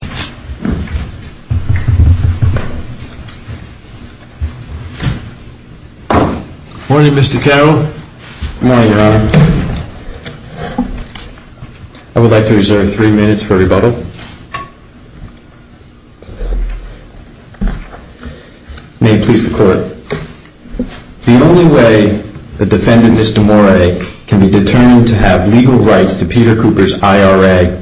Good morning, Mr. Carroll. Good morning, Your Honor. I would like to reserve three minutes for rebuttal. May it please the Court. The only way the defendant, Ms. D'Amore, can be determined to have legal rights to Peter Cooper's IRA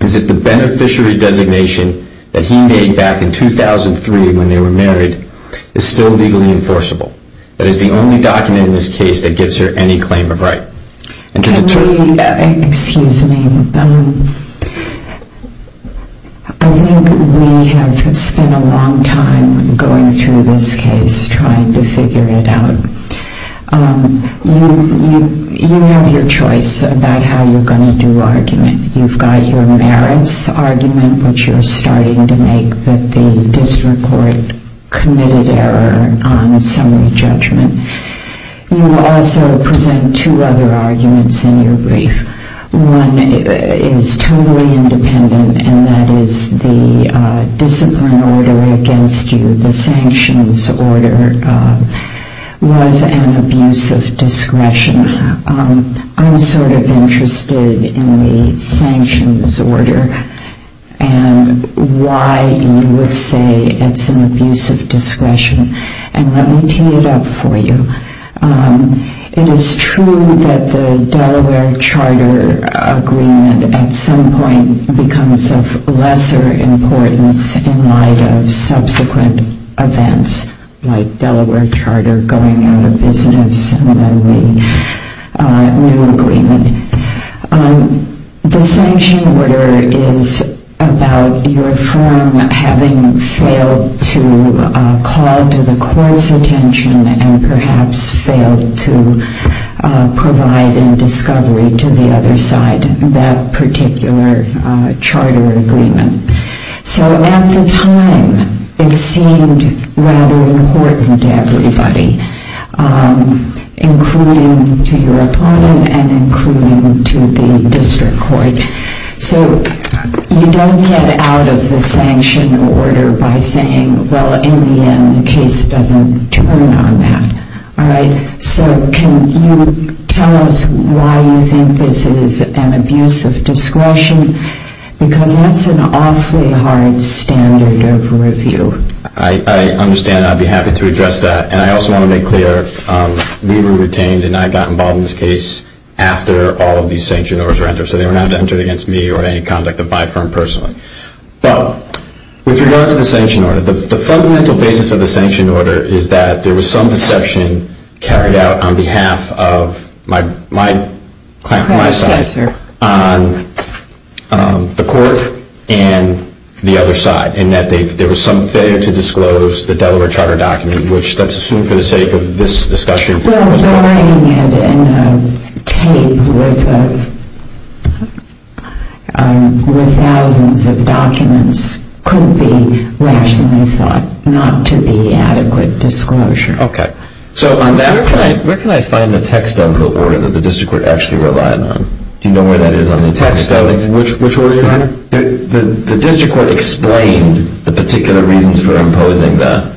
is if the beneficiary designation that he made back in 2003 when they were married is still legally enforceable. That is the only document in this case that gives her any claim of right. Excuse me. I think we have spent a long time going through this case, trying to figure it out. You have your choice about how you're going to do argument. You've got your merits argument, which you're starting to make that the district court committed error on a summary judgment. You also present two other arguments in your brief. One is totally independent, and that is the discipline order against you, the sanctions order, was an abuse of discretion. I'm sort of interested in the sanctions order and why you would say it's an abuse of discretion. And let me tee it up for you. It is true that the Delaware charter agreement at some point becomes of lesser importance in light of subsequent events like Delaware charter going out of business and then the new agreement. The sanction order is about your firm having failed to call to the court's attention and perhaps failed to provide in discovery to the other side that particular charter agreement. So at the time, it seemed rather important to everybody, including to your opponent and including to the district court. So you don't get out of the sanction order by saying, well, in the end, the case doesn't turn on that. All right. So can you tell us why you think this is an abuse of discretion? Because that's an awfully hard standard of review. I understand. I'd be happy to address that. And I also want to make clear, we were retained and I got involved in this case after all of these sanction orders were entered. So they were not entered against me or any conduct of my firm personally. Well, with regard to the sanction order, the fundamental basis of the sanction order is that there was some deception carried out on behalf of my client, my side, on the court and the other side. And that there was some failure to disclose the Delaware charter document, which that's assumed for the sake of this discussion. Well, drawing it in a tape with thousands of documents couldn't be rationally thought not to be adequate disclosure. Where can I find the text of the order that the district court actually relied on? Do you know where that is on the text of it? Which order is it? The district court explained the particular reasons for imposing that.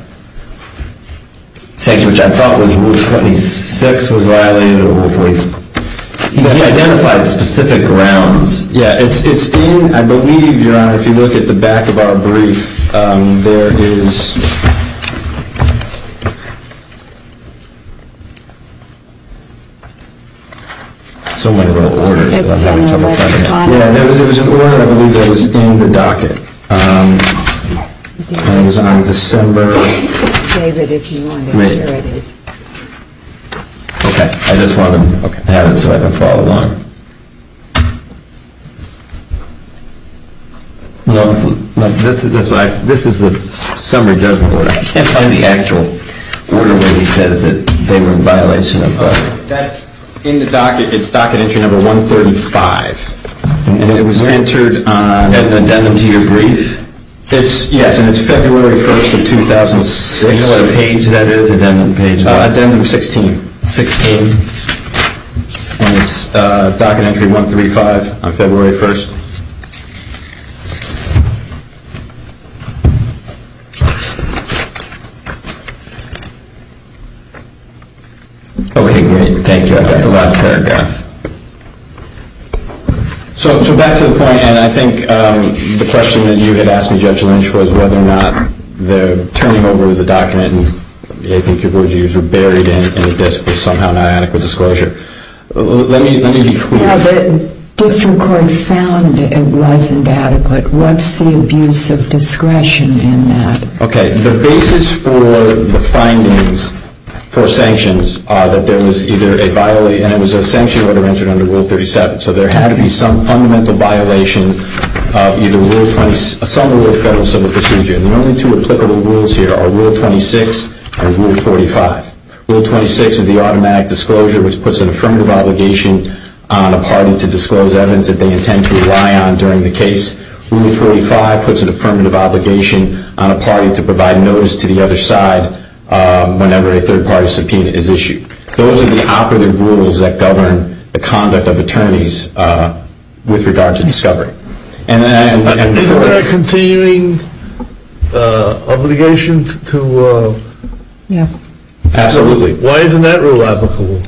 Which I thought was Rule 26 was violated or Rule 40. He identified specific grounds. Yeah, it's in, I believe, Your Honor, if you look at the back of our brief, there is... So many little orders that I'm having trouble finding. Yeah, there was an order, I believe, that was in the docket. And it was on December... David, if you want it, here it is. Okay, I just want to have it so I don't follow along. No, this is the summary judgment order. And the actual order where he says that they were in violation of... That's in the docket. It's docket entry number 135. And it was entered on... Is that an addendum to your brief? Yes, and it's February 1st of 2006. Do you know what page that is? Addendum 16. And it's docket entry 135 on February 1st. Okay, great. Thank you. I've got the last paragraph. So back to the point, and I think the question that you had asked me, Judge Lynch, was whether or not the turning over of the docket, and I think your words were used, were buried in the disc was somehow not adequate disclosure. Let me be clear. Well, the district court found it wasn't adequate. What's the abuse of discretion in that? Okay, the basis for the findings for sanctions are that there was either a violation... And it was a sanction order entered under Rule 37. So there had to be some fundamental violation of either Rule 20... some rule of federal civil procedure. And the only two applicable rules here are Rule 26 and Rule 45. Rule 26 is the automatic disclosure, which puts an affirmative obligation on a party to disclose evidence that they intend to rely on during the case. Rule 45 puts an affirmative obligation on a party to provide notice to the other side whenever a third-party subpoena is issued. Those are the operative rules that govern the conduct of attorneys with regard to discovery. Is there a continuing obligation to... Yeah. Absolutely. Why isn't that rule applicable?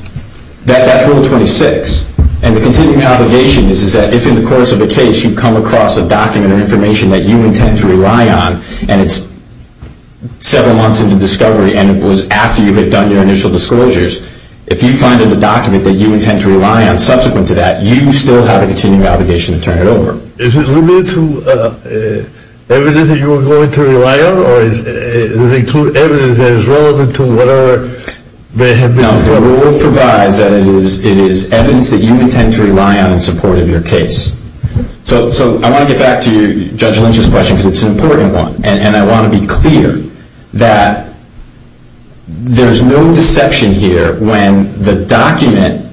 That's Rule 26. And the continuing obligation is that if in the course of a case you come across a document or information that you intend to rely on and it's several months into discovery and it was after you had done your initial disclosures, if you find in the document that you intend to rely on subsequent to that, you still have a continuing obligation to turn it over. Is it limited to evidence that you are going to rely on or does it include evidence that is relevant to whatever may have been... No. The rule provides that it is evidence that you intend to rely on in support of your case. So I want to get back to Judge Lynch's question because it's an important one. And I want to be clear that there's no deception here when the document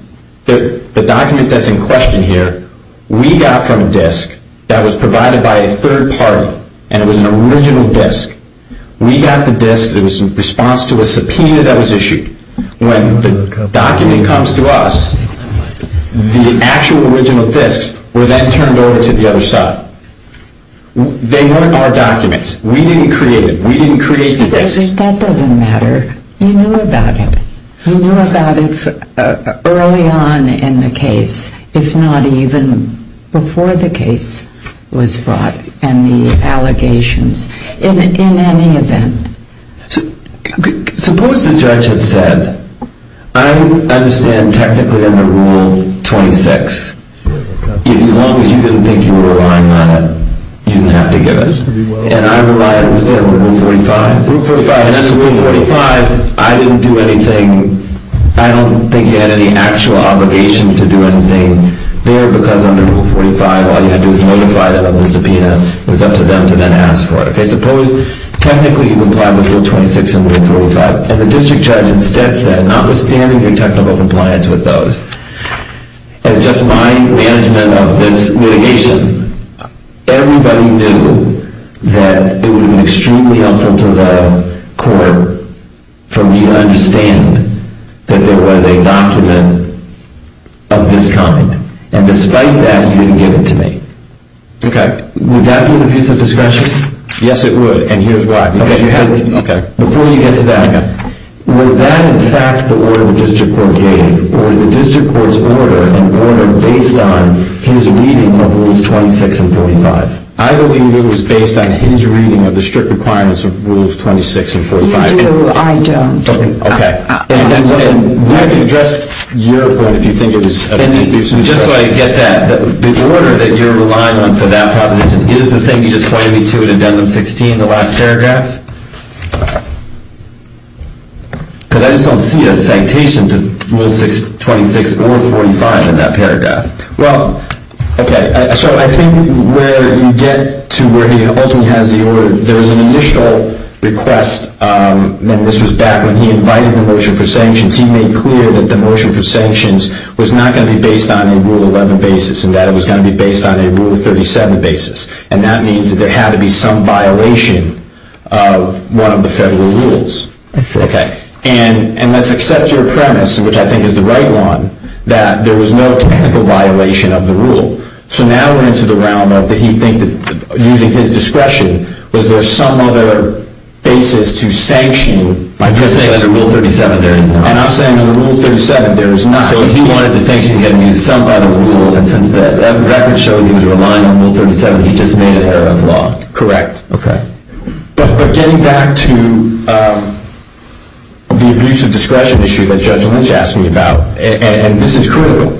that's in question here we got from a disc that was provided by a third party and it was an original disc. We got the disc in response to a subpoena that was issued. When the document comes to us, the actual original discs were then turned over to the other side. They weren't our documents. We didn't create it. We didn't create the discs. That doesn't matter. You knew about it. You knew about it early on in the case, if not even before the case was brought and the allegations in any event. Suppose the judge had said, I understand technically under Rule 26, as long as you didn't think you were relying on it, you didn't have to give it. And I relied on Rule 45. Under Rule 45, I didn't do anything. I don't think you had any actual obligation to do anything there because under Rule 45, all you had to do was notify them of the subpoena. It was up to them to then ask for it. Suppose technically you complied with Rule 26 under Rule 45 and the district judge instead said, notwithstanding your technical compliance with those, as just my management of this litigation, everybody knew that it would have been extremely helpful to the court for me to understand that there was a document of this kind. And despite that, you didn't give it to me. Okay. Would that be an abuse of discretion? Yes, it would. And here's why. Okay. Before you get to that, was that in fact the order the district court gave or the district court's order and order based on his reading of Rules 26 and 45? I believe it was based on his reading of the strict requirements of Rules 26 and 45. I don't. Okay. And we can address your point if you think it was an abuse of discretion. Just so I get that, the order that you're relying on for that proposition is the thing you just pointed me to in Addendum 16, the last paragraph? Because I just don't see a sanctation to Rule 26 or 45 in that paragraph. Well, okay. So I think where you get to where he ultimately has the order, there was an initial request, and this was back when he invited the motion for sanctions, he made clear that the motion for sanctions was not going to be based on a Rule 11 basis and that it was going to be based on a Rule 37 basis. And that means that there had to be some violation of one of the federal rules. I see. Okay. And let's accept your premise, which I think is the right one, that there was no technical violation of the rule. So now we're into the realm of did he think that using his discretion, was there some other basis to sanction? I'm just saying under Rule 37 there is not. And I'm saying under Rule 37 there is not. So he wanted to sanction again using some other rule, and since that record shows he was relying on Rule 37, he just made an error of law. Correct. Okay. But getting back to the abuse of discretion issue that Judge Lynch asked me about, and this is critical,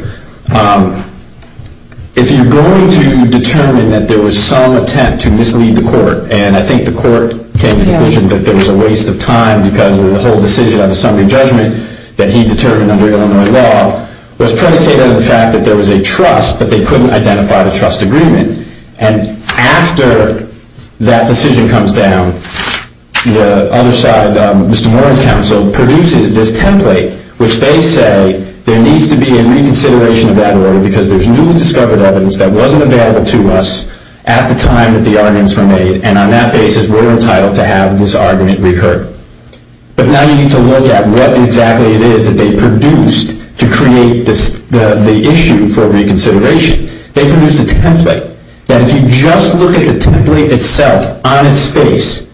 if you're going to determine that there was some attempt to mislead the court, and I think the court came to the conclusion that there was a waste of time because of the whole decision of the summary judgment that he determined under Illinois law, was predicated on the fact that there was a trust, but they couldn't identify the trust agreement. And after that decision comes down, the other side, Mr. Moran's counsel, produces this template which they say there needs to be a reconsideration of that order because there's newly discovered evidence that wasn't available to us at the time that the arguments were made, and on that basis we're entitled to have this argument recurred. But now you need to look at what exactly it is that they produced to create the issue for reconsideration. They produced a template that if you just look at the template itself on its face,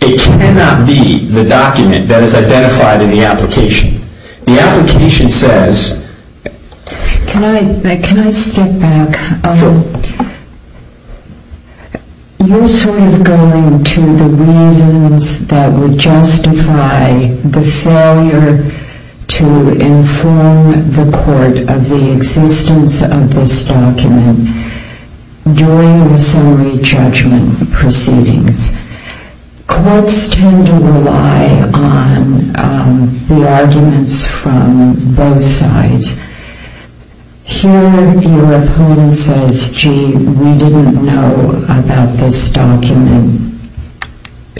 it cannot be the document that is identified in the application. The application says... Can I step back? You're sort of going to the reasons that would justify the failure to inform the court of the existence of this document during the summary judgment proceedings. Courts tend to rely on the arguments from both sides. Here your opponent says, gee, we didn't know about this document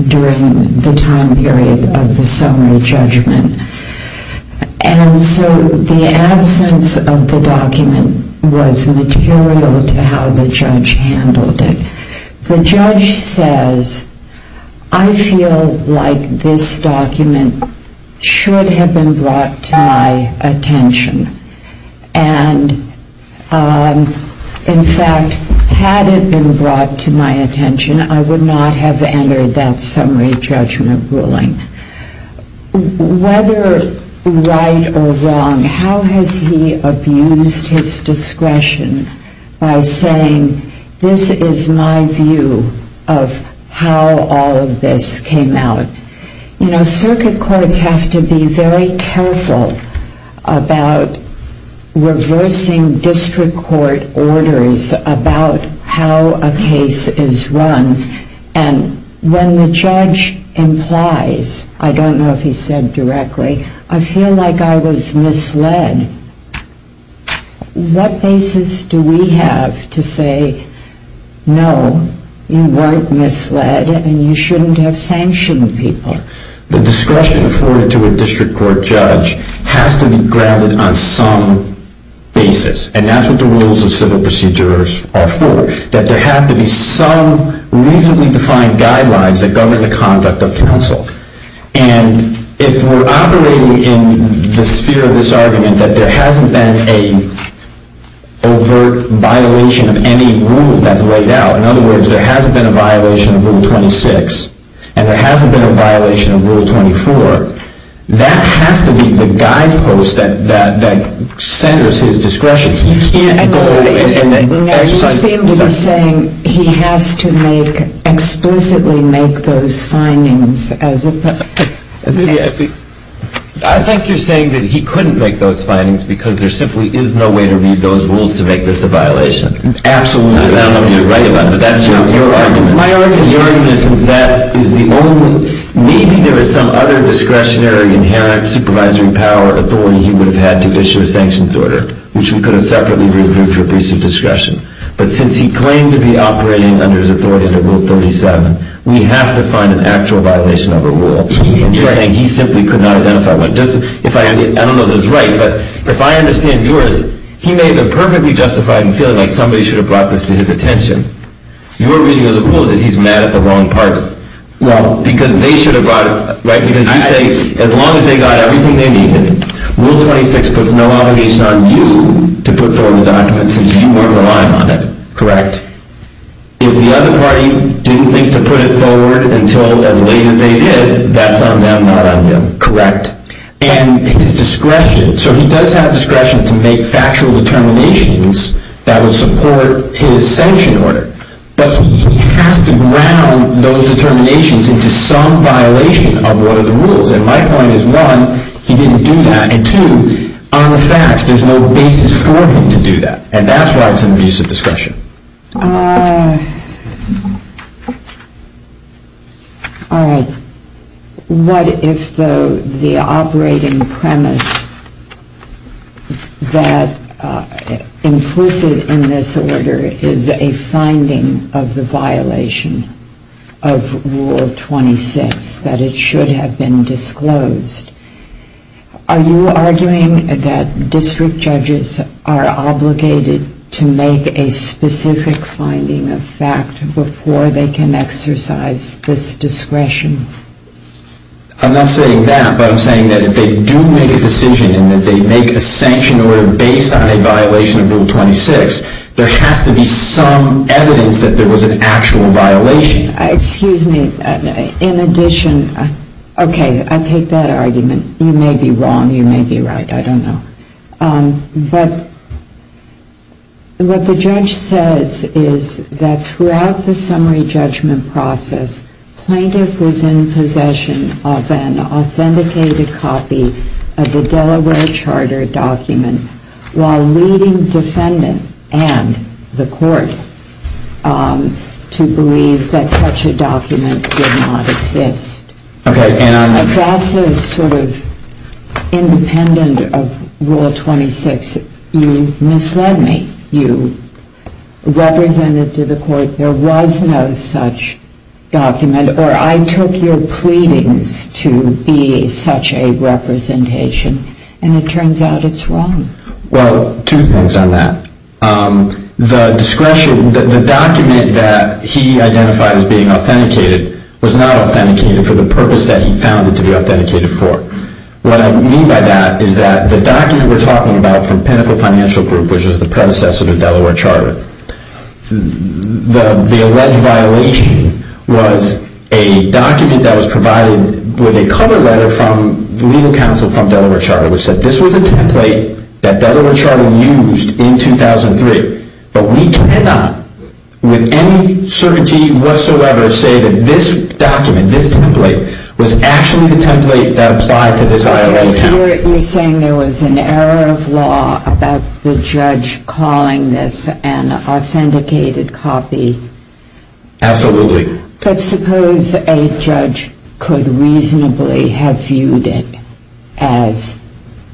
during the time period of the summary judgment. And so the absence of the document was material to how the judge handled it. The judge says, I feel like this document should have been brought to my attention. And in fact, had it been brought to my attention, I would not have entered that summary judgment ruling. Whether right or wrong, how has he abused his discretion by saying, this is my view of how all of this came out? Circuit courts have to be very careful about reversing district court orders about how a case is run. And when the judge implies, I don't know if he said directly, I feel like I was misled. What basis do we have to say, no, you weren't misled and you shouldn't have sanctioned people? The discretion afforded to a district court judge has to be grounded on some basis. And that's what the rules of civil procedure are for, that there have to be some reasonably defined guidelines that govern the conduct of counsel. And if we're operating in the sphere of this argument, that there hasn't been an overt violation of any rule that's laid out, in other words, there hasn't been a violation of Rule 26, and there hasn't been a violation of Rule 24, that has to be the guidepost that centers his discretion. He can't go and exercise... I think you're saying that he couldn't make those findings because there simply is no way to read those rules to make this a violation. Absolutely. Maybe there is some other discretionary inherent supervisory power authority he would have had to issue a sanctions order, which we could have separately reviewed for a piece of discretion. But since he claimed to be operating under his authority under Rule 37, we have to find an actual violation of a rule. You're saying he simply could not identify one. I don't know if that's right, but if I understand yours, he may have been perfectly justified in feeling like somebody should have brought this to his attention. Your reading of the rule is that he's mad at the wrong party. Because you say as long as they got everything they needed, Rule 26 puts no obligation on you to put forward the document since you weren't relying on it. If the other party didn't think to put it forward until as late as they did, that's on them, not on him. Correct. He does have discretion to make factual determinations that would support his sanction order, but he has to ground those determinations into some violation of one of the rules. My point is, one, he didn't do that, and two, on the facts, there's no basis for him to do that. All right. What if the operating premise that implicit in this order is a finding of the violation of Rule 26, that it should have been disclosed? Are you arguing that district judges are obligated to make a specific finding of fact before they can exercise this discretion? I'm not saying that, but I'm saying that if they do make a decision and that they make a sanction order based on a violation of Rule 26, there has to be some evidence that there was an actual violation. Excuse me. In addition, okay, I take that argument. You may be wrong, you may be right, I don't know. But what the judge says is that throughout the summary judgment process, plaintiff was in possession of an authenticated copy of the Delaware Charter document while leading defendant and the court to believe that such a document did not exist. That's sort of independent of Rule 26. You misled me. You represented to the court there was no such document, or I took your pleadings to be such a representation, and it turns out it's wrong. Well, two things on that. The document that he identified as being authenticated was not authenticated for the purpose that he found it to be authenticated for. What I mean by that is that the document we're talking about from Pinnacle Financial Group, which was the predecessor to Delaware Charter, the alleged violation was a document that was provided with a cover letter from the legal counsel from Delaware Charter, which said this was a template that Delaware Charter used in 2003, but we cannot with any certainty whatsoever say that this document, this template, was actually the template that applied to this IRA account. You're saying there was an error of law about the judge calling this an authenticated copy? Absolutely. But suppose a judge could reasonably have viewed it as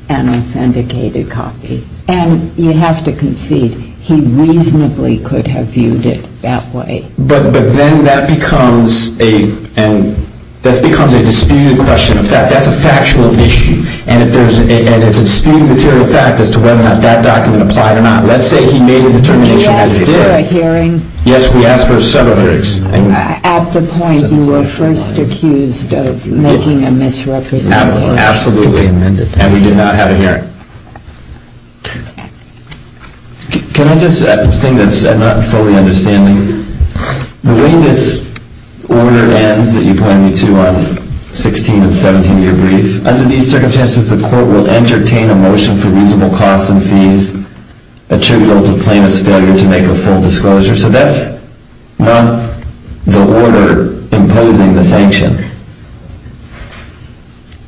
an authenticated copy, and you have to concede he reasonably could have viewed it that way. But then that becomes a disputed question of fact. That's a factual issue, and it's a disputed material fact as to whether or not that document applied or not. Let's say he made a determination as he did. Did you ask for a hearing? Yes, we asked for several hearings. At the point you were first accused of making a misrepresentation. Absolutely, and we did not have a hearing. Can I just say something that I'm not fully understanding? The way this order ends that you point me to on 16 and 17 of your brief, under these circumstances the court will entertain a motion for reasonable costs and fees attributable to plaintiff's failure to make a full disclosure. So that's not the order imposing the sanction.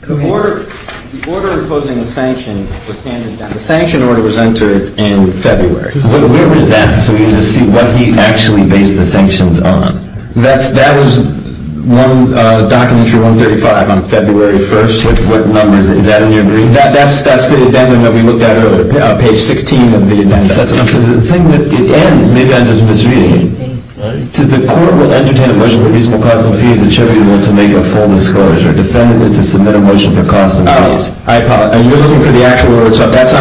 The order imposing the sanction was entered in February. Where was that? So we need to see what he actually based the sanctions on. That was one document from 135 on February 1st. Is that in your brief? That's the addendum that we looked at earlier, page 16 of the addendum. The thing that it ends, maybe I'm just misreading it. The court will entertain a motion for reasonable costs and fees attributable to make a full disclosure. Defendant is to submit a motion for costs and fees. You're looking for the actual order. So that's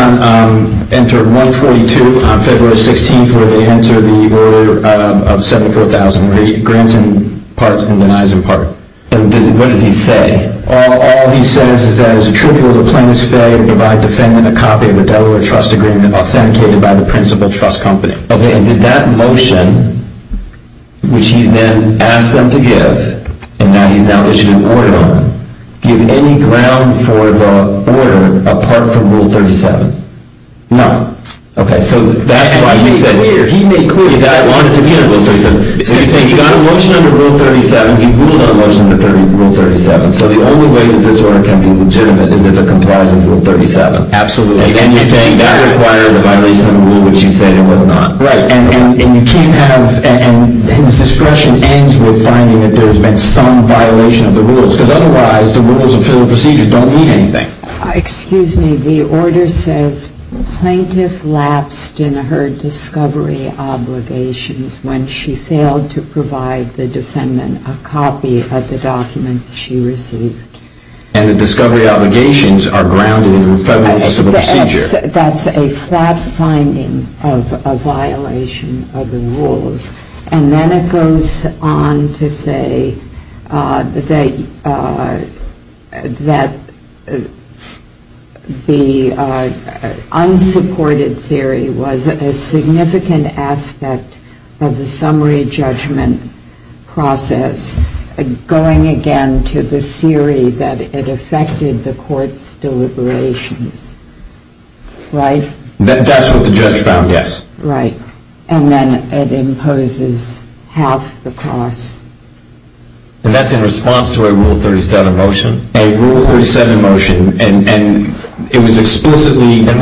entered 142 on February 16th where they enter the order of 74,000 grants in part and denies in part. What does he say? All he says is that it's attributable to plaintiff's failure to provide defendant a copy of the Delaware trust agreement authenticated by the principal trust company. Did that motion, which he then asked them to give, and now he's now issuing an order on it, give any ground for the order apart from Rule 37? No. He made clear that he wanted to be under Rule 37. So he's saying he got a motion under Rule 37, he ruled on a motion under Rule 37. So the only way that this order can be legitimate is if it complies with Rule 37. Absolutely. And then he's saying that requires a violation of the rule, which he said it was not. Right, and you can't have, and his discretion ends with finding that there's been some violation of the rules, because otherwise the rules of federal procedure don't mean anything. Excuse me, the order says plaintiff lapsed in her discovery obligations when she failed to provide the defendant a copy of the documents she received. And the discovery obligations are grounded in federal civil procedure. That's a flat finding of a violation of the rules. And then it goes on to say that, the unsupported theory was a significant aspect of the summary judgment process, going again to the theory that it affected the court's deliberations. Right? That's what the judge found, yes. Right, and then it imposes half the cost. And that's in response to a Rule 37 motion? A Rule 37 motion, and it was explicitly... In that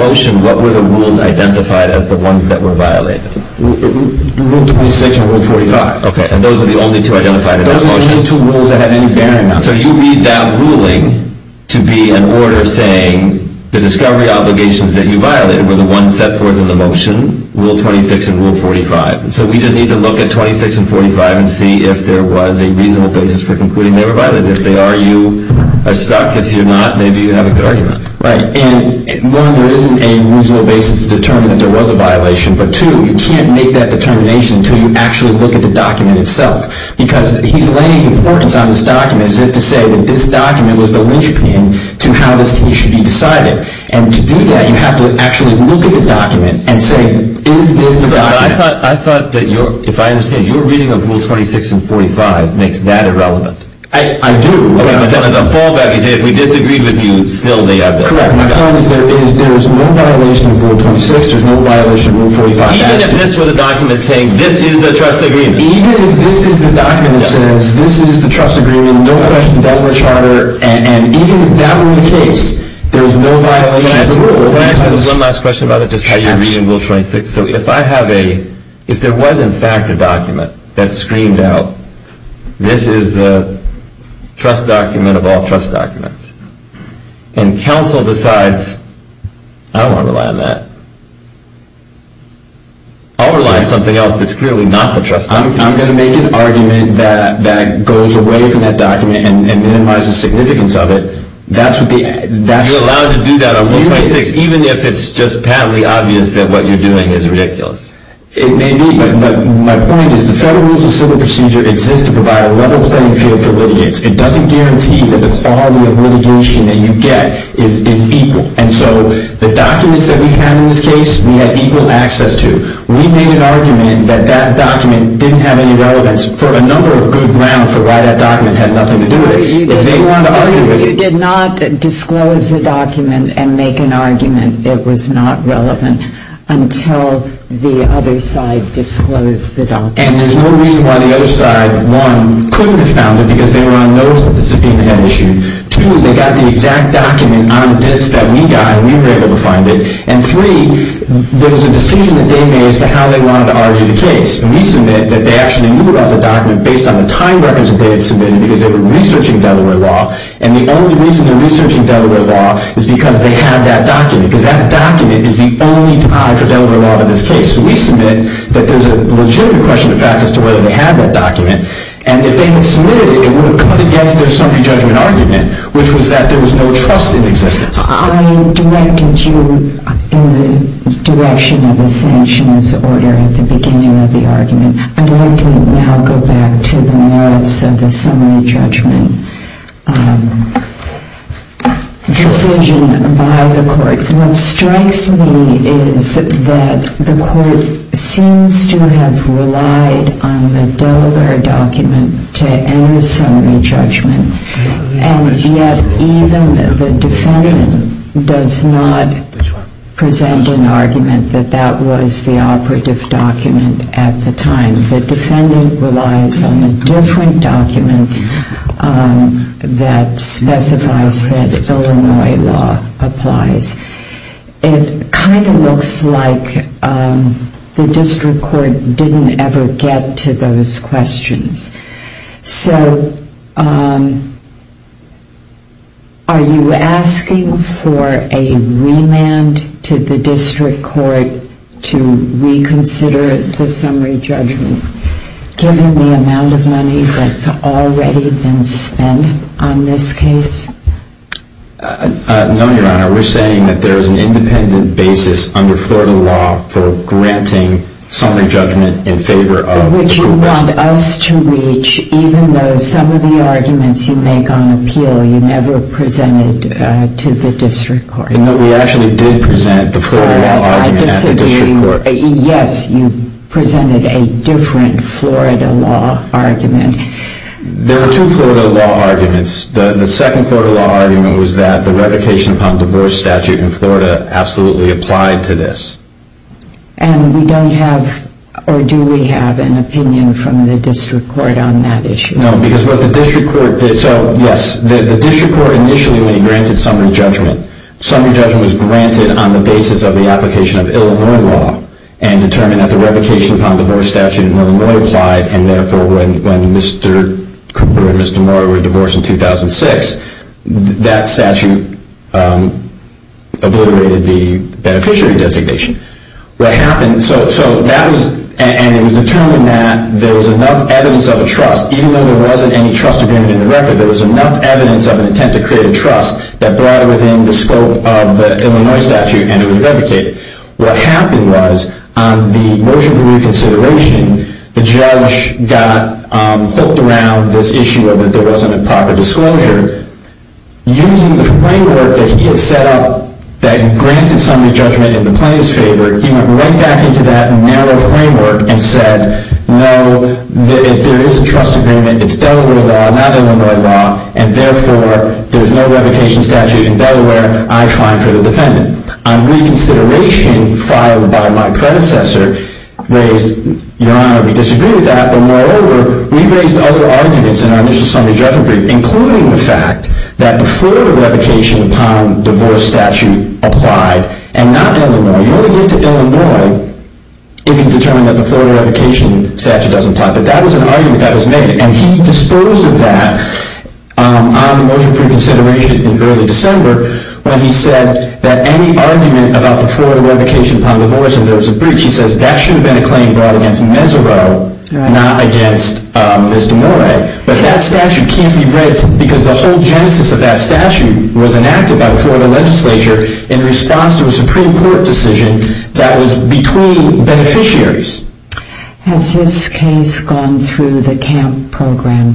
motion, what were the rules identified as the ones that were violated? Rule 26 and Rule 45. Okay, and those are the only two identified in that motion? So you need that ruling to be an order saying the discovery obligations that you violated were the ones set forth in the motion, Rule 26 and Rule 45. So we just need to look at 26 and 45 and see if there was a reasonable basis for concluding they were violated. If they are, you are stuck. If you're not, maybe you have a good argument. Right, and one, there isn't a reasonable basis to determine that there was a violation, but two, you can't make that determination until you actually look at the document itself. Because he's laying importance on this document as if to say that this document was the linchpin to how this case should be decided. And to do that, you have to actually look at the document and say, is this the document... But I thought, if I understand, your reading of Rule 26 and 45 makes that irrelevant. I do. My point is there is no violation of Rule 26, there is no violation of Rule 45. Even if this was a document saying, this is the trust agreement. Even if this is the document that says, this is the trust agreement, no question about the charter, and even if that were the case, there is no violation of the rule. Can I ask one last question about how you read Rule 26? If there was in fact a document that screamed out, this is the trust document of all trust documents, and counsel decides, I don't want to rely on that. I'll rely on something else that's clearly not the trust document. I'm going to make an argument that goes away from that document and minimizes the significance of it. You're allowed to do that on Rule 26, even if it's just patently obvious that what you're doing is ridiculous. It may be, but my point is the Federal Rules of Civil Procedure exists to provide a level playing field for litigants. It doesn't guarantee that the quality of litigation that you get is equal. And so the documents that we have in this case, we have equal access to. We made an argument that that document didn't have any relevance for a number of good grounds for why that document had nothing to do with it. You did not disclose the document and make an argument that was not relevant until the other side disclosed the document. And there's no reason why the other side, one, couldn't have found it because they were on notes that the subpoena had issued. Two, they got the exact document on a disk that we got, and we were able to find it. And three, there was a decision that they made as to how they wanted to argue the case. And we submit that they actually knew about the document based on the time records that they had submitted because they were researching Delaware law, and the only reason they were researching Delaware law is because they had that document, because that document is the only tie for Delaware law in this case. We submit that there's a legitimate question of fact as to whether they had that document, and if they had submitted it, it would have come against their summary judgment argument, which was that there was no trust in existence. I directed you in the direction of the sanctions order at the beginning of the argument. I'd like to now go back to the merits of the summary judgment decision by the court. What strikes me is that the court seems to have relied on the Delaware document to enter summary judgment, and yet even the defendant does not present an argument that that was the operative document at the time. The defendant relies on a different document that specifies that Illinois law applies. It kind of looks like the district court didn't ever get to those questions. So are you asking for a remand to the district court to reconsider the summary judgment, given the amount of money that's already been spent on this case? No, Your Honor. We're saying that there's an independent basis under Florida law for granting summary judgment in favor of the district court. Which you want us to reach, even though some of the arguments you make on appeal you never presented to the district court. No, we actually did present the Florida law argument at the district court. I disagree. Yes, you presented a different Florida law argument. There were two Florida law arguments. The second Florida law argument was that the revocation upon divorce statute in Florida absolutely applied to this. And we don't have, or do we have, an opinion from the district court on that issue? No, because what the district court did, so yes, the district court initially when it granted summary judgment, summary judgment was granted on the basis of the application of Illinois law and determined that the revocation upon divorce statute in Illinois applied and therefore when Mr. Cabrera and Mr. Mora were divorced in 2006, that statute obliterated the beneficiary designation. What happened, so that was, and it was determined that there was enough evidence of a trust, even though there wasn't any trust agreement in the record, there was enough evidence of an intent to create a trust that brought it within the scope of the Illinois statute and it was revocated. What happened was on the motion for reconsideration, the judge got hooked around this issue of that there wasn't a proper disclosure. Using the framework that he had set up that granted summary judgment in the plaintiff's favor, he went right back into that narrow framework and said, no, if there is a trust agreement, it's Delaware law, not Illinois law, and therefore there's no revocation statute in Delaware, I find for the defendant. On reconsideration filed by my predecessor, raised, Your Honor, we disagree with that, but moreover, we raised other arguments in our initial summary judgment brief, including the fact that the Florida revocation upon divorce statute applied and not Illinois. You only get to Illinois if you determine that the Florida revocation statute doesn't apply. But that was an argument that was made, and he disposed of that on the motion for reconsideration in early December when he said that any argument about the Florida revocation upon divorce and there was a breach, he says that should have been a claim brought against Mesereau, not against Ms. DeMorae, but that statute can't be breached because the whole genesis of that statute was enacted by the Florida legislature in response to a Supreme Court decision that was between beneficiaries. Has this case gone through the CAMP program?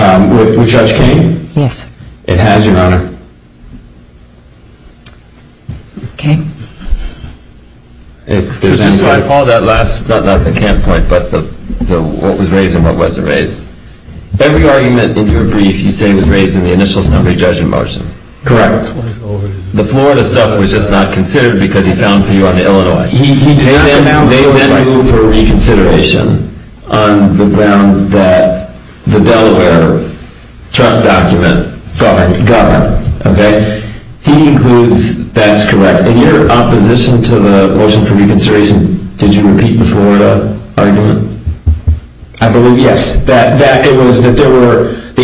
With Judge Kane? Yes. It has, Your Honor. Okay. I follow that last, not the CAMP point, but what was raised and what wasn't raised. Every argument in your brief you say was raised in the initial summary judgment motion. Correct. The Florida stuff was just not considered because he found few on the Illinois. They went through for reconsideration on the grounds that the Delaware trust document governed. He concludes that's correct. In your opposition to the motion for reconsideration, did you repeat the Florida argument? I believe, yes. The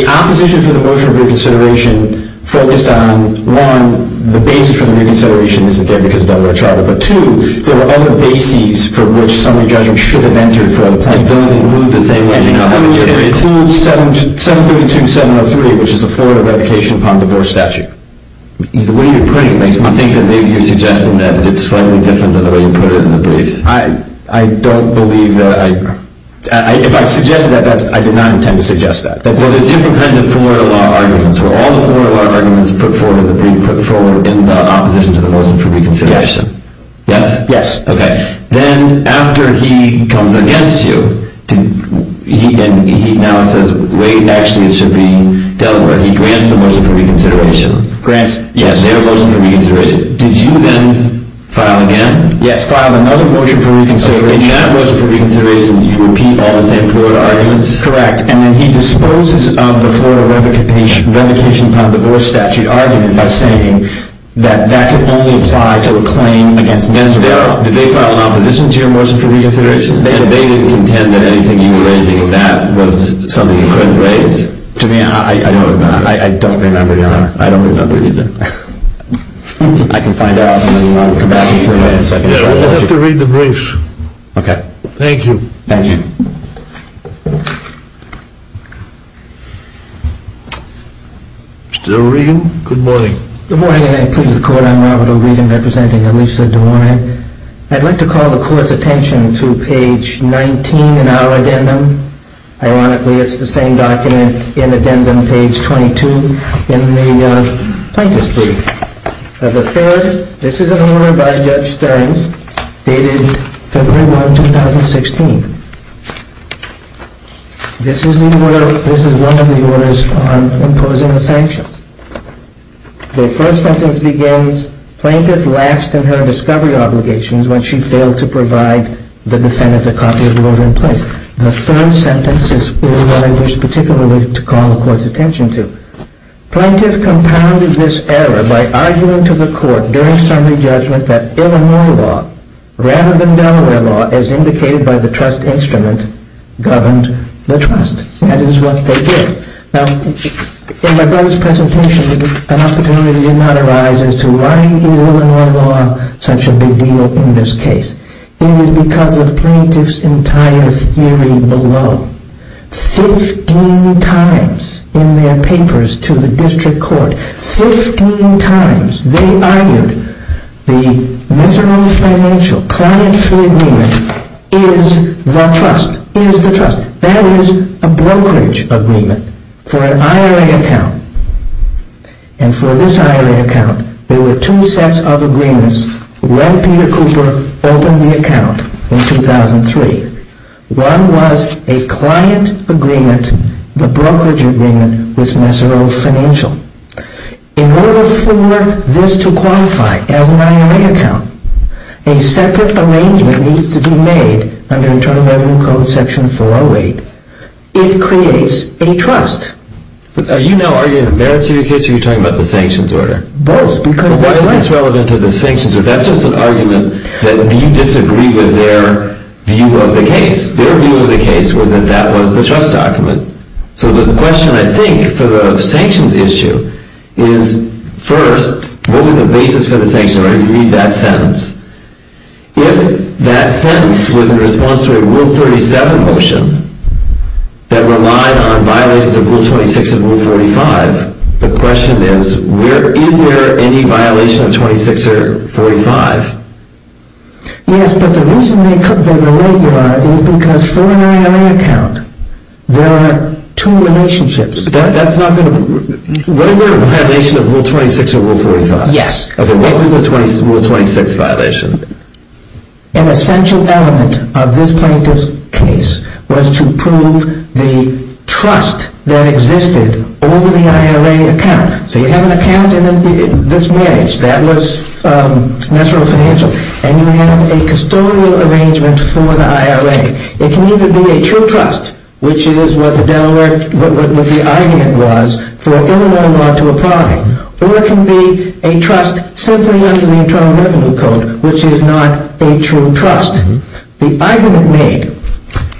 opposition for the motion for reconsideration focused on, one, the basis for the reconsideration, again, because of Delaware charter, but two, there were other bases for which summary judgment should have entered for a claim. Those include the same one? It includes 732-703, which is the Florida revocation upon divorce statute. The way you're putting it makes me think that maybe you're suggesting that it's slightly different than the way you put it in the brief. I don't believe that. If I suggested that, I did not intend to suggest that. Well, there are different kinds of Florida law arguments where all the Florida law arguments put forward are being put forward in the opposition to the motion for reconsideration. Yes. Okay. Then after he comes against you and he now says, wait, actually it should be Delaware, he grants the motion for reconsideration. Grants their motion for reconsideration. Did you then file again? Yes, file another motion for reconsideration. And in that motion for reconsideration, you repeat all the same Florida arguments? Correct. And then he disposes of the Florida revocation upon divorce statute argument by saying that that could only apply to a claim against Minnesota. Did they file an opposition to your motion for reconsideration? They didn't contend that anything you were raising in that was something you couldn't raise. I don't remember either. I can find out. I have to read the briefs. Thank you. Good morning. Good morning. I'd like to call the court's attention to page 19 in our addendum. Ironically, it's the same document in addendum page 22 in the plaintiff's brief. The third, this is an order by Judge Stearns dated February 1, 2016. This is one of the orders on imposing the sanctions. The first sentence begins, plaintiff lapsed in her discovery obligations when she failed to provide the defendant a copy of the order in place. The third sentence is one I wish particularly to call the court's attention to. Plaintiff compounded this error by arguing to the court during summary judgment that Illinois law rather than Delaware law, as indicated by the trust instrument, governed the trust. That is what they did. Now, in my brother's presentation, an opportunity did not arise as to why Illinois law such a big deal in this case. It is because of plaintiff's entire theory below. Fifteen times in their papers to the district court, fifteen times, they argued the miserable financial climate free agreement is the trust. That is a brokerage agreement for an IRA account. And for this IRA account, there were two sets of agreements when Peter Cooper opened the account in 2003. One was a client agreement, the brokerage agreement with Mesereau Financial. In order for this to qualify as an IRA account, a separate arrangement needs to be made under Internal Revenue Code Section 408. It creates a trust. Are you now arguing the merits of your case or are you talking about the sanctions order? Both. Why is this relevant to the sanctions order? That is just an argument that you disagree with their view of the case. Their view of the case was that that was the trust document. So the question, I think, for the sanctions issue is, first, what was the basis for the sanctions order? You read that sentence. If that sentence was in response to a Rule 37 motion that relied on violations of Rule 26 and Rule 45, the question is, is there any violation of Rule 26 or Rule 45? Yes, but the reason they were regular is because for an IRA account, there are two relationships. What is the violation of Rule 26 and Rule 45? What was the Rule 26 violation? An essential element of this plaintiff's case was to prove the trust that existed over the IRA account. So you have an account and this managed. That was natural financial. And you have a custodial arrangement for the IRA. It can either be a true trust, which is what the argument was for Illinois law to apply, or it can be a trust simply under the Internal Revenue Code, which is not a true trust. The argument made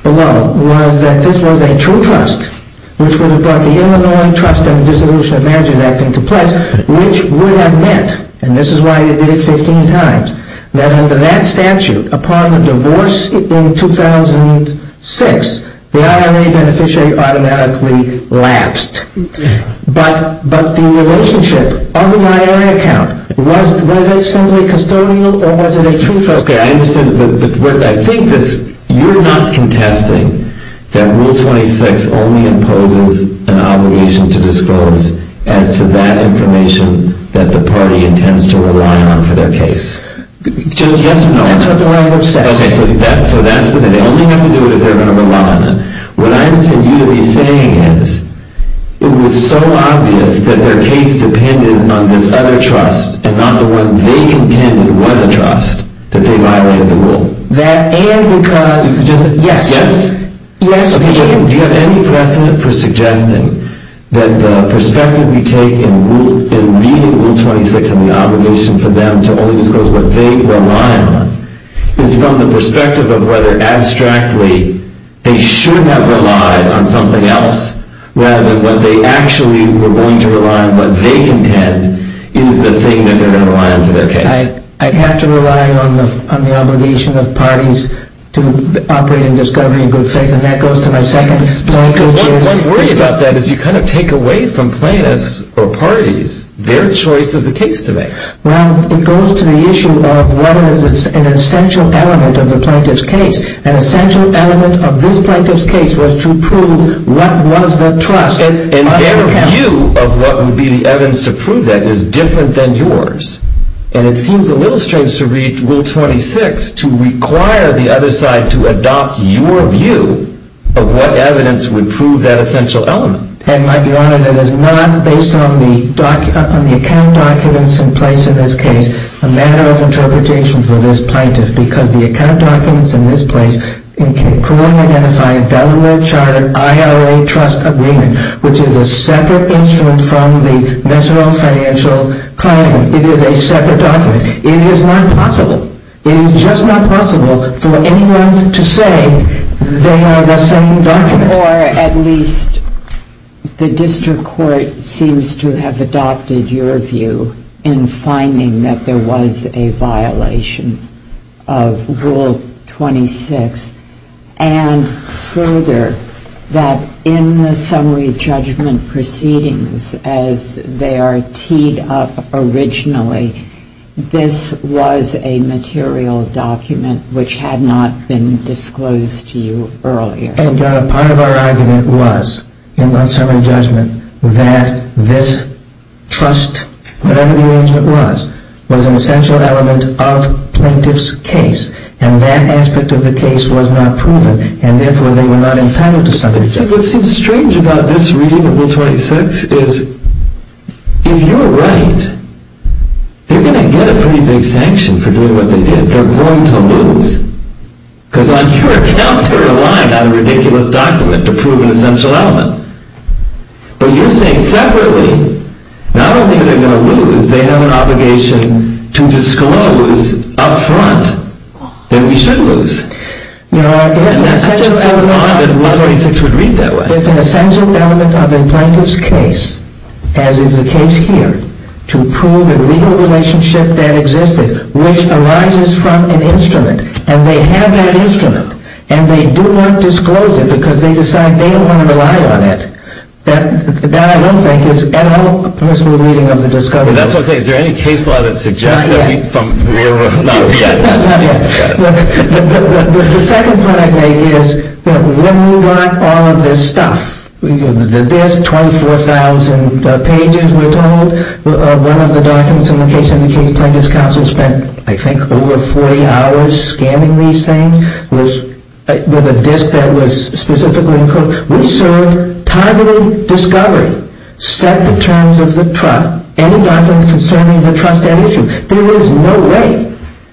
below was that this was a true trust, which would have brought the Illinois Trust and the Dissolution of Managers Act into place, which would have meant, and this is why they did it 15 times, that under that statute, upon divorce in 2006, the IRA beneficiary automatically lapsed. But the relationship of the IRA account, was it simply custodial or was it a true trust? I think you're not contesting that Rule 26 only imposes an obligation to disclose as to that information that the party intends to rely on for their case. Yes or no? That's what the language says. What I intend you to be saying is, it was so obvious that their case depended on this other trust and not the one they contended was a trust that they violated the rule. Yes. Do you have any precedent for suggesting that the perspective we take in reading Rule 26 and the obligation for them to only disclose what they rely on is from the perspective of whether abstractly they should have relied on something else rather than what they actually were going to rely on, what they contend is the thing that they're going to rely on for their case? I'd have to rely on the obligation of parties to operate in discovery and good faith, and that goes to my second point. One worry about that is you kind of take away from plaintiffs or parties their choice of the case to make. Well, it goes to the issue of what is an essential element of the plaintiff's case. An essential element of this plaintiff's case was to prove what was their trust. And their view of what would be the evidence to prove that is different than yours. And it seems a little strange to read Rule 26 to require the other side to adopt your view of what evidence would prove that essential element. And, Mike, Your Honor, that is not based on the account documents in place in this case a matter of interpretation for this plaintiff, because the account documents in this place clearly identify Delaware Chartered IRA Trust Agreement, which is a separate instrument from the Mesero Financial Claim. It is a separate document. It is not possible. It is just not possible for anyone to say they are the same document. Or at least the District Court seems to have adopted your view in finding that there was a violation of Rule 26. And further, that in the summary judgment proceedings, as they are teed up originally, this was a material document which had not been disclosed to you earlier. And, Your Honor, part of our argument was in that summary judgment that this trust, whatever the arrangement was, was an essential element of plaintiff's case, and that aspect of the case was not proven, and therefore they were not entitled to summary judgment. What seems strange about this reading of Rule 26 is, if you are right, they are going to get a pretty big sanction for doing what they did. They are going to lose. Because on your account, they are relying on a ridiculous document to prove an essential element. But you are saying separately, not only are they going to lose, they have an obligation to disclose up front that we should lose. No, if an essential element of a plaintiff's case, as is the case here, to prove a legal relationship that existed, which arises from an instrument, and they have that instrument, and they do not disclose it because they decide they don't want to rely on it. That, I don't think, is at all permissible reading of the discovery. That's what I'm saying. Is there any case law that suggests that we're not yet? The second point I'd make is, when we got all of this stuff, one of the documents in the case of the plaintiff's counsel spent, I think, over 40 hours scanning these things with a disk that was specifically encoded. We served timely discovery, set the terms of the trial, any documents concerning the trust at issue. There is no way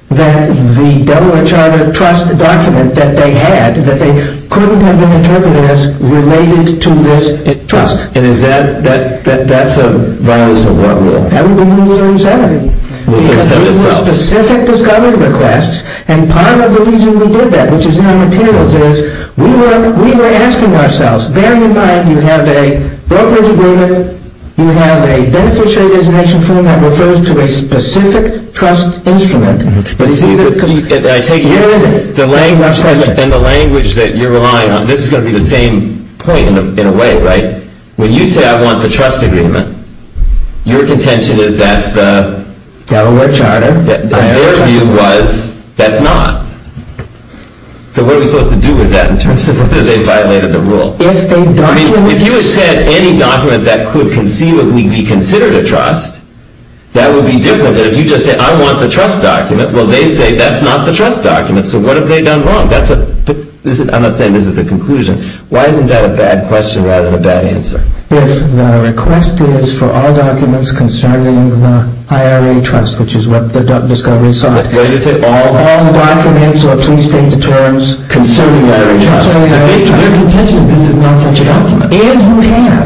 that the Delaware Charter Trust document that they had, that they couldn't have been interpreted as related to this trust. And is that, that's a violence of what rule? That would be a new rule in the Senate. Because we had specific discovery requests, and part of the reason we did that, which is in our materials, is we were asking ourselves, bearing in mind you have a broker's agreement, you have a beneficiary designation form that refers to a specific trust instrument. But see, I take you as the language, and the language that you're relying on, this is going to be the same point in a way, right? When you say, I want the trust agreement, your contention is that's the Delaware Charter. Their view was, that's not. So what are we supposed to do with that in terms of whether they violated the rule? If you had said any document that could conceivably be considered a trust, that would be different than if you just said, I want the trust document. Well, they say, that's not the trust document. So what have they done wrong? I'm not saying this is the conclusion. Why isn't that a bad question rather than a bad answer? If the request is for all documents concerning the IRA trust, which is what the discovery sought, all documents or plea state deterrents concerning the IRA trust. Your contention is this is not such a document. And you have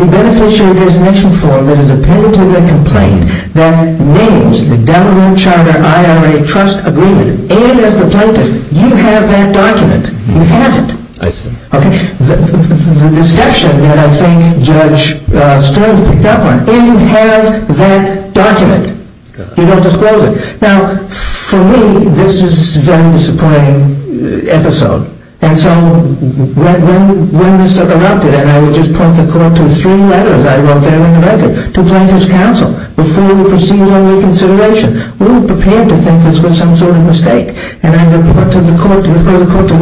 the beneficiary designation form that is appended to the complaint that names the Delaware Charter IRA trust agreement. And as the plaintiff, you have that document. You have it. I see. Okay. The deception that I think Judge Stearns picked up on, and you have that document. You don't disclose it. Now, for me, this is a very disappointing episode. And so when this erupted, and I would just point the court to three letters I wrote there in the record to plaintiff's counsel before we proceeded on reconsideration, we were prepared to think this was some sort of mistake. And I would refer the court to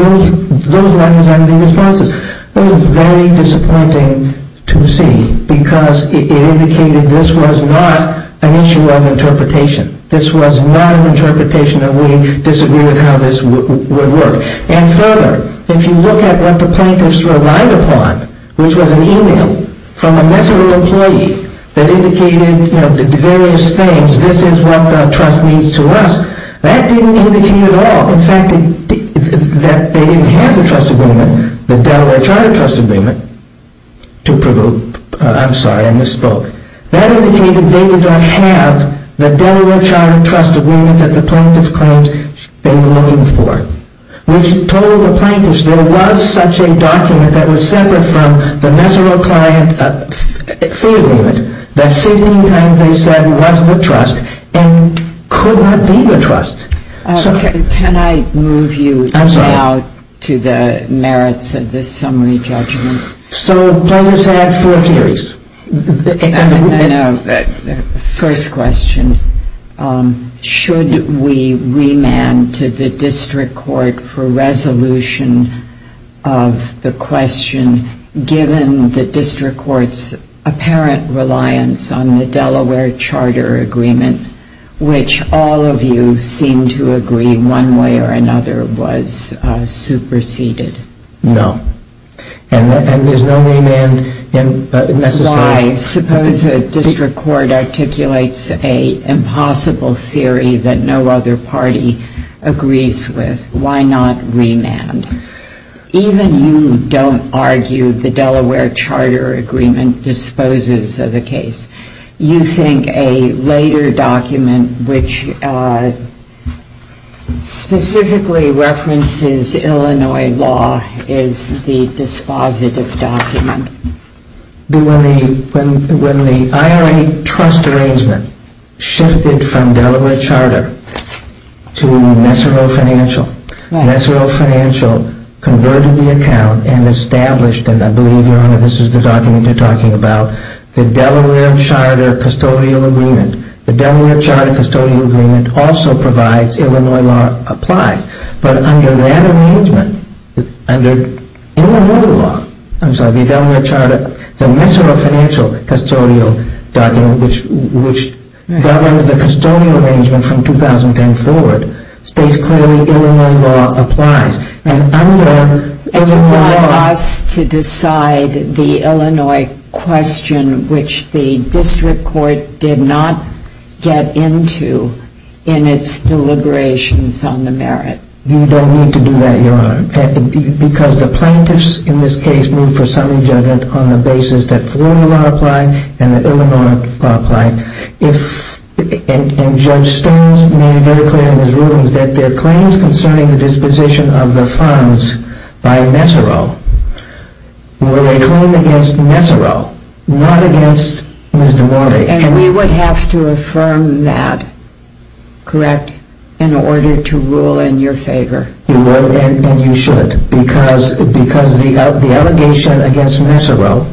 those letters and the responses. It was very disappointing to see because it indicated this was not an issue of interpretation. This was not an interpretation, and we disagreed on how this would work. And further, if you look at what the plaintiffs relied upon, which was an email from a messaging employee that indicated various things, this is what the trust needs to ask. That didn't indicate at all, in fact, that they didn't have the trust agreement, the Delaware Charter trust agreement, to prove. I'm sorry, I misspoke. That indicated they did not have the Delaware Charter trust agreement that the plaintiff claimed they were looking for, which told the plaintiffs there was such a document that was separate from the Nesero client fee agreement that 15 times they said was the trust and could not be the trust. Can I move you now to the merits of this summary judgment? So plaintiffs had four theories. First question. Should we remand to the district court for resolution of the question given the district court's apparent reliance on the Delaware Charter agreement, which all of you seem to agree one way or another was superseded? No. And there's no remand necessarily. Why? Suppose a district court articulates an impossible theory that no other party agrees with. Why not remand? Even you don't argue the Delaware Charter agreement disposes of a case. You think a later document which specifically references Illinois law is the dispositive document. When the IRA trust arrangement shifted from Delaware Charter to Nesero Financial, Nesero Financial converted the account and established, and I believe, Your Honor, this is the document you're talking about, the Delaware Charter custodial agreement. The Delaware Charter custodial agreement also provides Illinois law applies. But under that arrangement, under Illinois law, I'm sorry, the Nesero Financial custodial document, which governs the custodial arrangement from 2010 forward, states clearly Illinois law applies. And under Illinois law. And you want us to decide the Illinois question, which the district court did not get into in its deliberations on the merit. You don't need to do that, Your Honor, because the plaintiffs in this case moved for summary judgment on the basis that Florida law applied and that Illinois law applied. And Judge Stones made it very clear in his rulings that their claims concerning the disposition of the funds by Nesero were a claim against Nesero, not against Ms. Duarte. And we would have to affirm that, correct, in order to rule in your favor. You would, and you should, because the allegation against Nesero,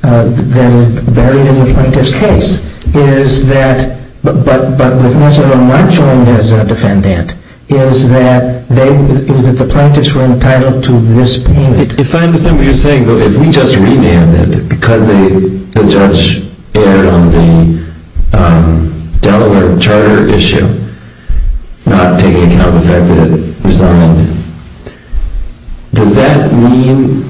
that is buried in the plaintiff's case, is that, but with Nesero not joined as a defendant, is that the plaintiffs were entitled to this payment. If I understand what you're saying, though, if we just remanded because the judge erred on the Delaware charter issue, not taking account of the fact that it resigned, does that mean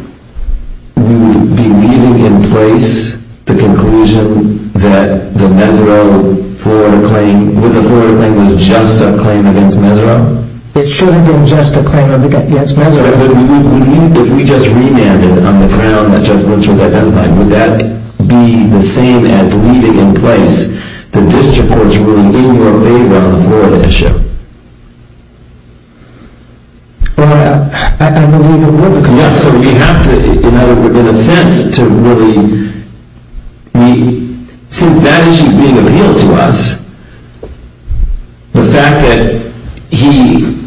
we would be leaving in place the conclusion that the Nesero-Florida claim, that the Florida claim was just a claim against Nesero? It should have been just a claim against Nesero. If we just remanded on the crown that Judge Lynch was identifying, would that be the same as leaving in place the district court's ruling in your favor on the Florida issue? Well, I believe it would. Yeah, so we have to, you know, in a sense, to really... Since that issue is being appealed to us, the fact that he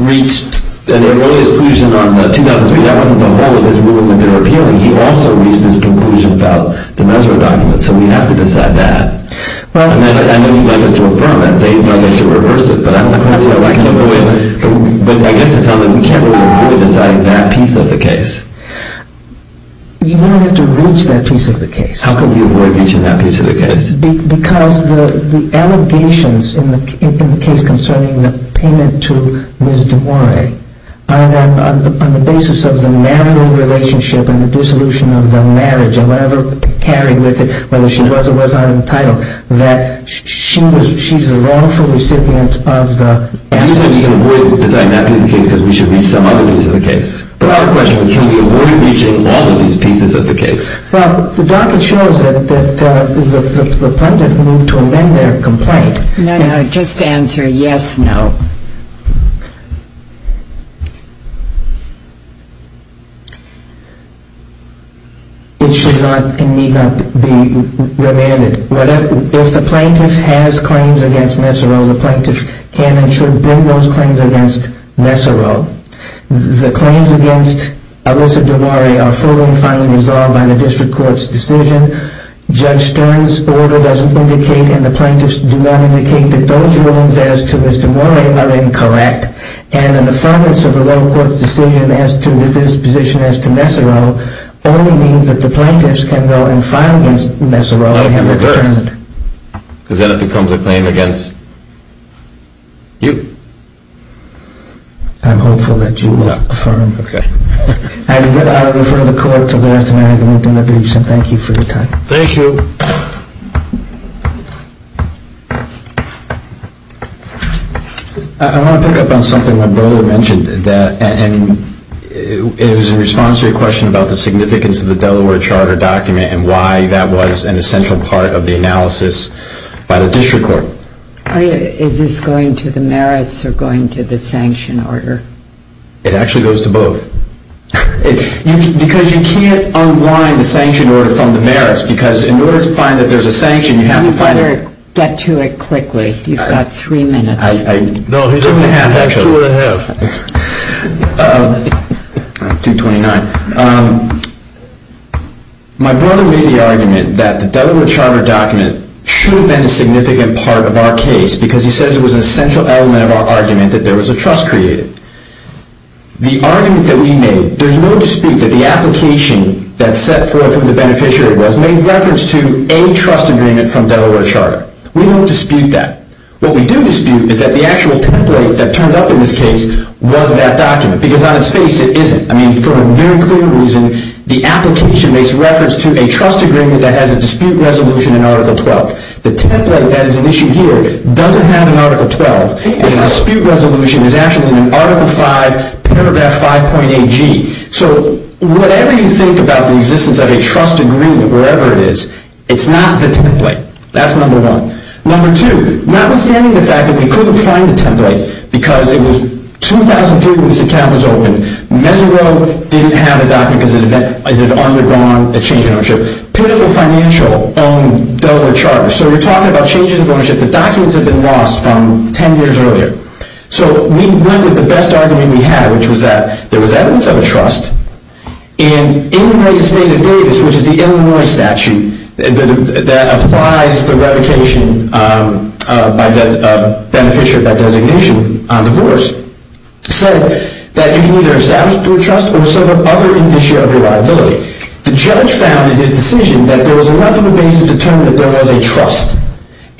reached an erroneous conclusion on 2003, that wasn't the whole of his ruling that they were appealing. He also reached this conclusion about the Nesero document, so we have to decide that. I know you'd like us to affirm it, Dave would like us to reverse it, but I guess it's not that we can't really decide that piece of the case. You would have to reach that piece of the case. How can we avoid reaching that piece of the case? Because the allegations in the case concerning the payment to Ms. DuBois are on the basis of the marital relationship and the dissolution of the marriage and whatever carried with it, whether she was or was not entitled, that she's a lawful recipient of the... You said we can avoid deciding that piece of the case because we should reach some other piece of the case. But our question was, can we avoid reaching all of these pieces of the case? Well, the docket shows that the plaintiff moved to amend their complaint. No, no, just answer yes, no. It should not and need not be remanded. If the plaintiff has claims against Nesero, the plaintiff can and should bring those claims against Nesero. The claims against Alyssa DuMore are fully and finally resolved by the district court's decision. Judge Stern's order doesn't indicate and the plaintiffs do not indicate that those rulings as to Mr. DuMore are incorrect and an affirmance of the lower court's decision as to the disposition as to Nesero only means that the plaintiffs can go and file against Nesero because then it becomes a claim against you. I'm hopeful that you will affirm. Okay. I refer the court to the lawyer, and I thank you for your time. Thank you. I want to pick up on something that Beau mentioned. It was in response to your question about the significance of the Delaware Charter document and why that was an essential part of the analysis by the district court. Is this going to the merits or going to the sanction order? It actually goes to both. Because you can't unwind the sanction order from the merits because in order to find that there's a sanction, you have to find it. You'd better get to it quickly. You've got three minutes. No, he took two and a half. Two twenty-nine. My brother made the argument that the Delaware Charter document should have been a significant part of our case because he says it was an essential element of our argument that there was a trust created. The argument that we made, there's no dispute that the application that's set forth from the beneficiary was made in reference to a trust agreement from Delaware Charter. We don't dispute that. What we do dispute is that the actual template that turned up in this case was that document because on its face, it isn't. I mean, for a very clear reason, the application makes reference to a trust agreement that has a dispute resolution in Article 12. The template that is an issue here doesn't have an Article 12. The dispute resolution is actually in Article 5, paragraph 5.8g. So whatever you think about the existence of a trust agreement, wherever it is, it's not the template. That's number one. Number two, notwithstanding the fact that we couldn't find the template because it was 2003 when this account was opened, Mezero didn't have a document because it had undergone a change in ownership. Pinnacle Financial owned Delaware Charter. So we're talking about changes of ownership. The documents had been lost from 10 years earlier. So we went with the best argument we had, which was that there was evidence of a trust. And in the state of Davis, which is the Illinois statute that applies the revocation by the beneficiary of that designation on divorce, said that you can either establish through a trust or set up other in this year of reliability. The judge found in his decision that there was a lack of a basis to determine that there was a trust.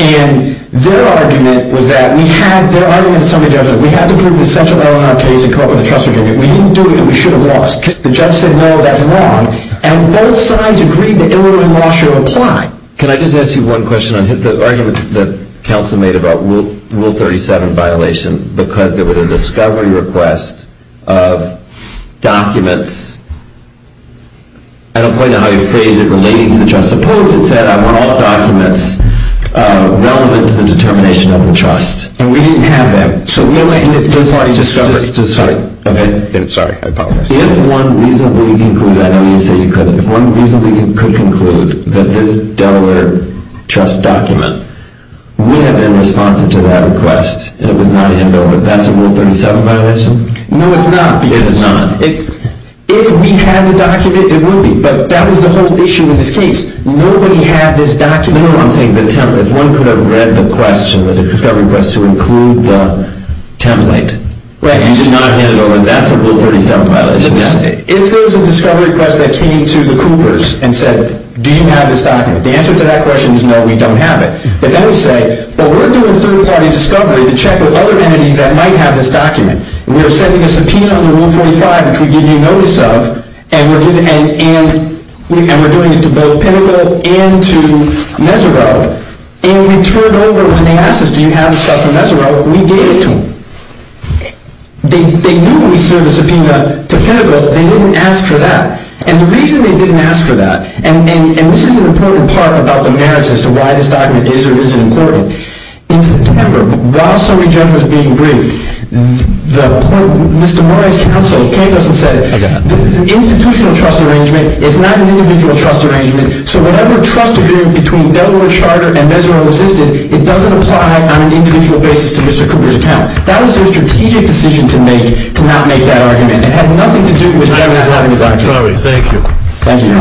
And their argument was that, their argument to some of the judges was we had to prove an essential element in our case and come up with a trust agreement. We didn't do it and we should have lost. The judge said, no, that's wrong. And both sides agreed that Illinois law should apply. Can I just ask you one question? The argument that counsel made about Rule 37 violation because there was a discovery request of documents, I don't quite know how you phrase it, relating to the trust. Suppose it said, are all documents relevant to the determination of the trust? And we didn't have that. So we only had to discover. Sorry. Sorry. I apologize. If one reasonably concluded, I know you say you couldn't, if one reasonably could conclude that this Delaware trust document would have been responsive to that request and it was not handed over, that's a Rule 37 violation? No, it's not. Yes, it's not. If we had the document, it would be. But that was the whole issue in this case. Nobody had this document. No, I'm saying the template. If one could have read the question, the discovery request to include the template, and it's not handed over, that's a Rule 37 violation, yes? If there was a discovery request that came to the Coopers and said, do you have this document? The answer to that question is no, we don't have it. But then we say, well, we're doing a third-party discovery to check with other entities that might have this document. We are sending a subpoena under Rule 45, which we give you notice of, and we're doing it to both Pinnacle and to Mesereau, and we turn it over when they ask us, do you have the stuff from Mesereau? We gave it to them. They knew we served a subpoena to Pinnacle. They didn't ask for that. And the reason they didn't ask for that, and this is an important part about the merits as to why this document is or isn't important, in September, while SOTYJ was being briefed, Mr. Murray's counsel came to us and said, this is an institutional trust arrangement, it's not an individual trust arrangement, so whatever trust agreement between Delaware Charter and Mesereau existed, it doesn't apply on an individual basis to Mr. Cooper's account. That was their strategic decision to make to not make that argument. It had nothing to do with them not having the document. Sorry, thank you. Thank you. Thank you.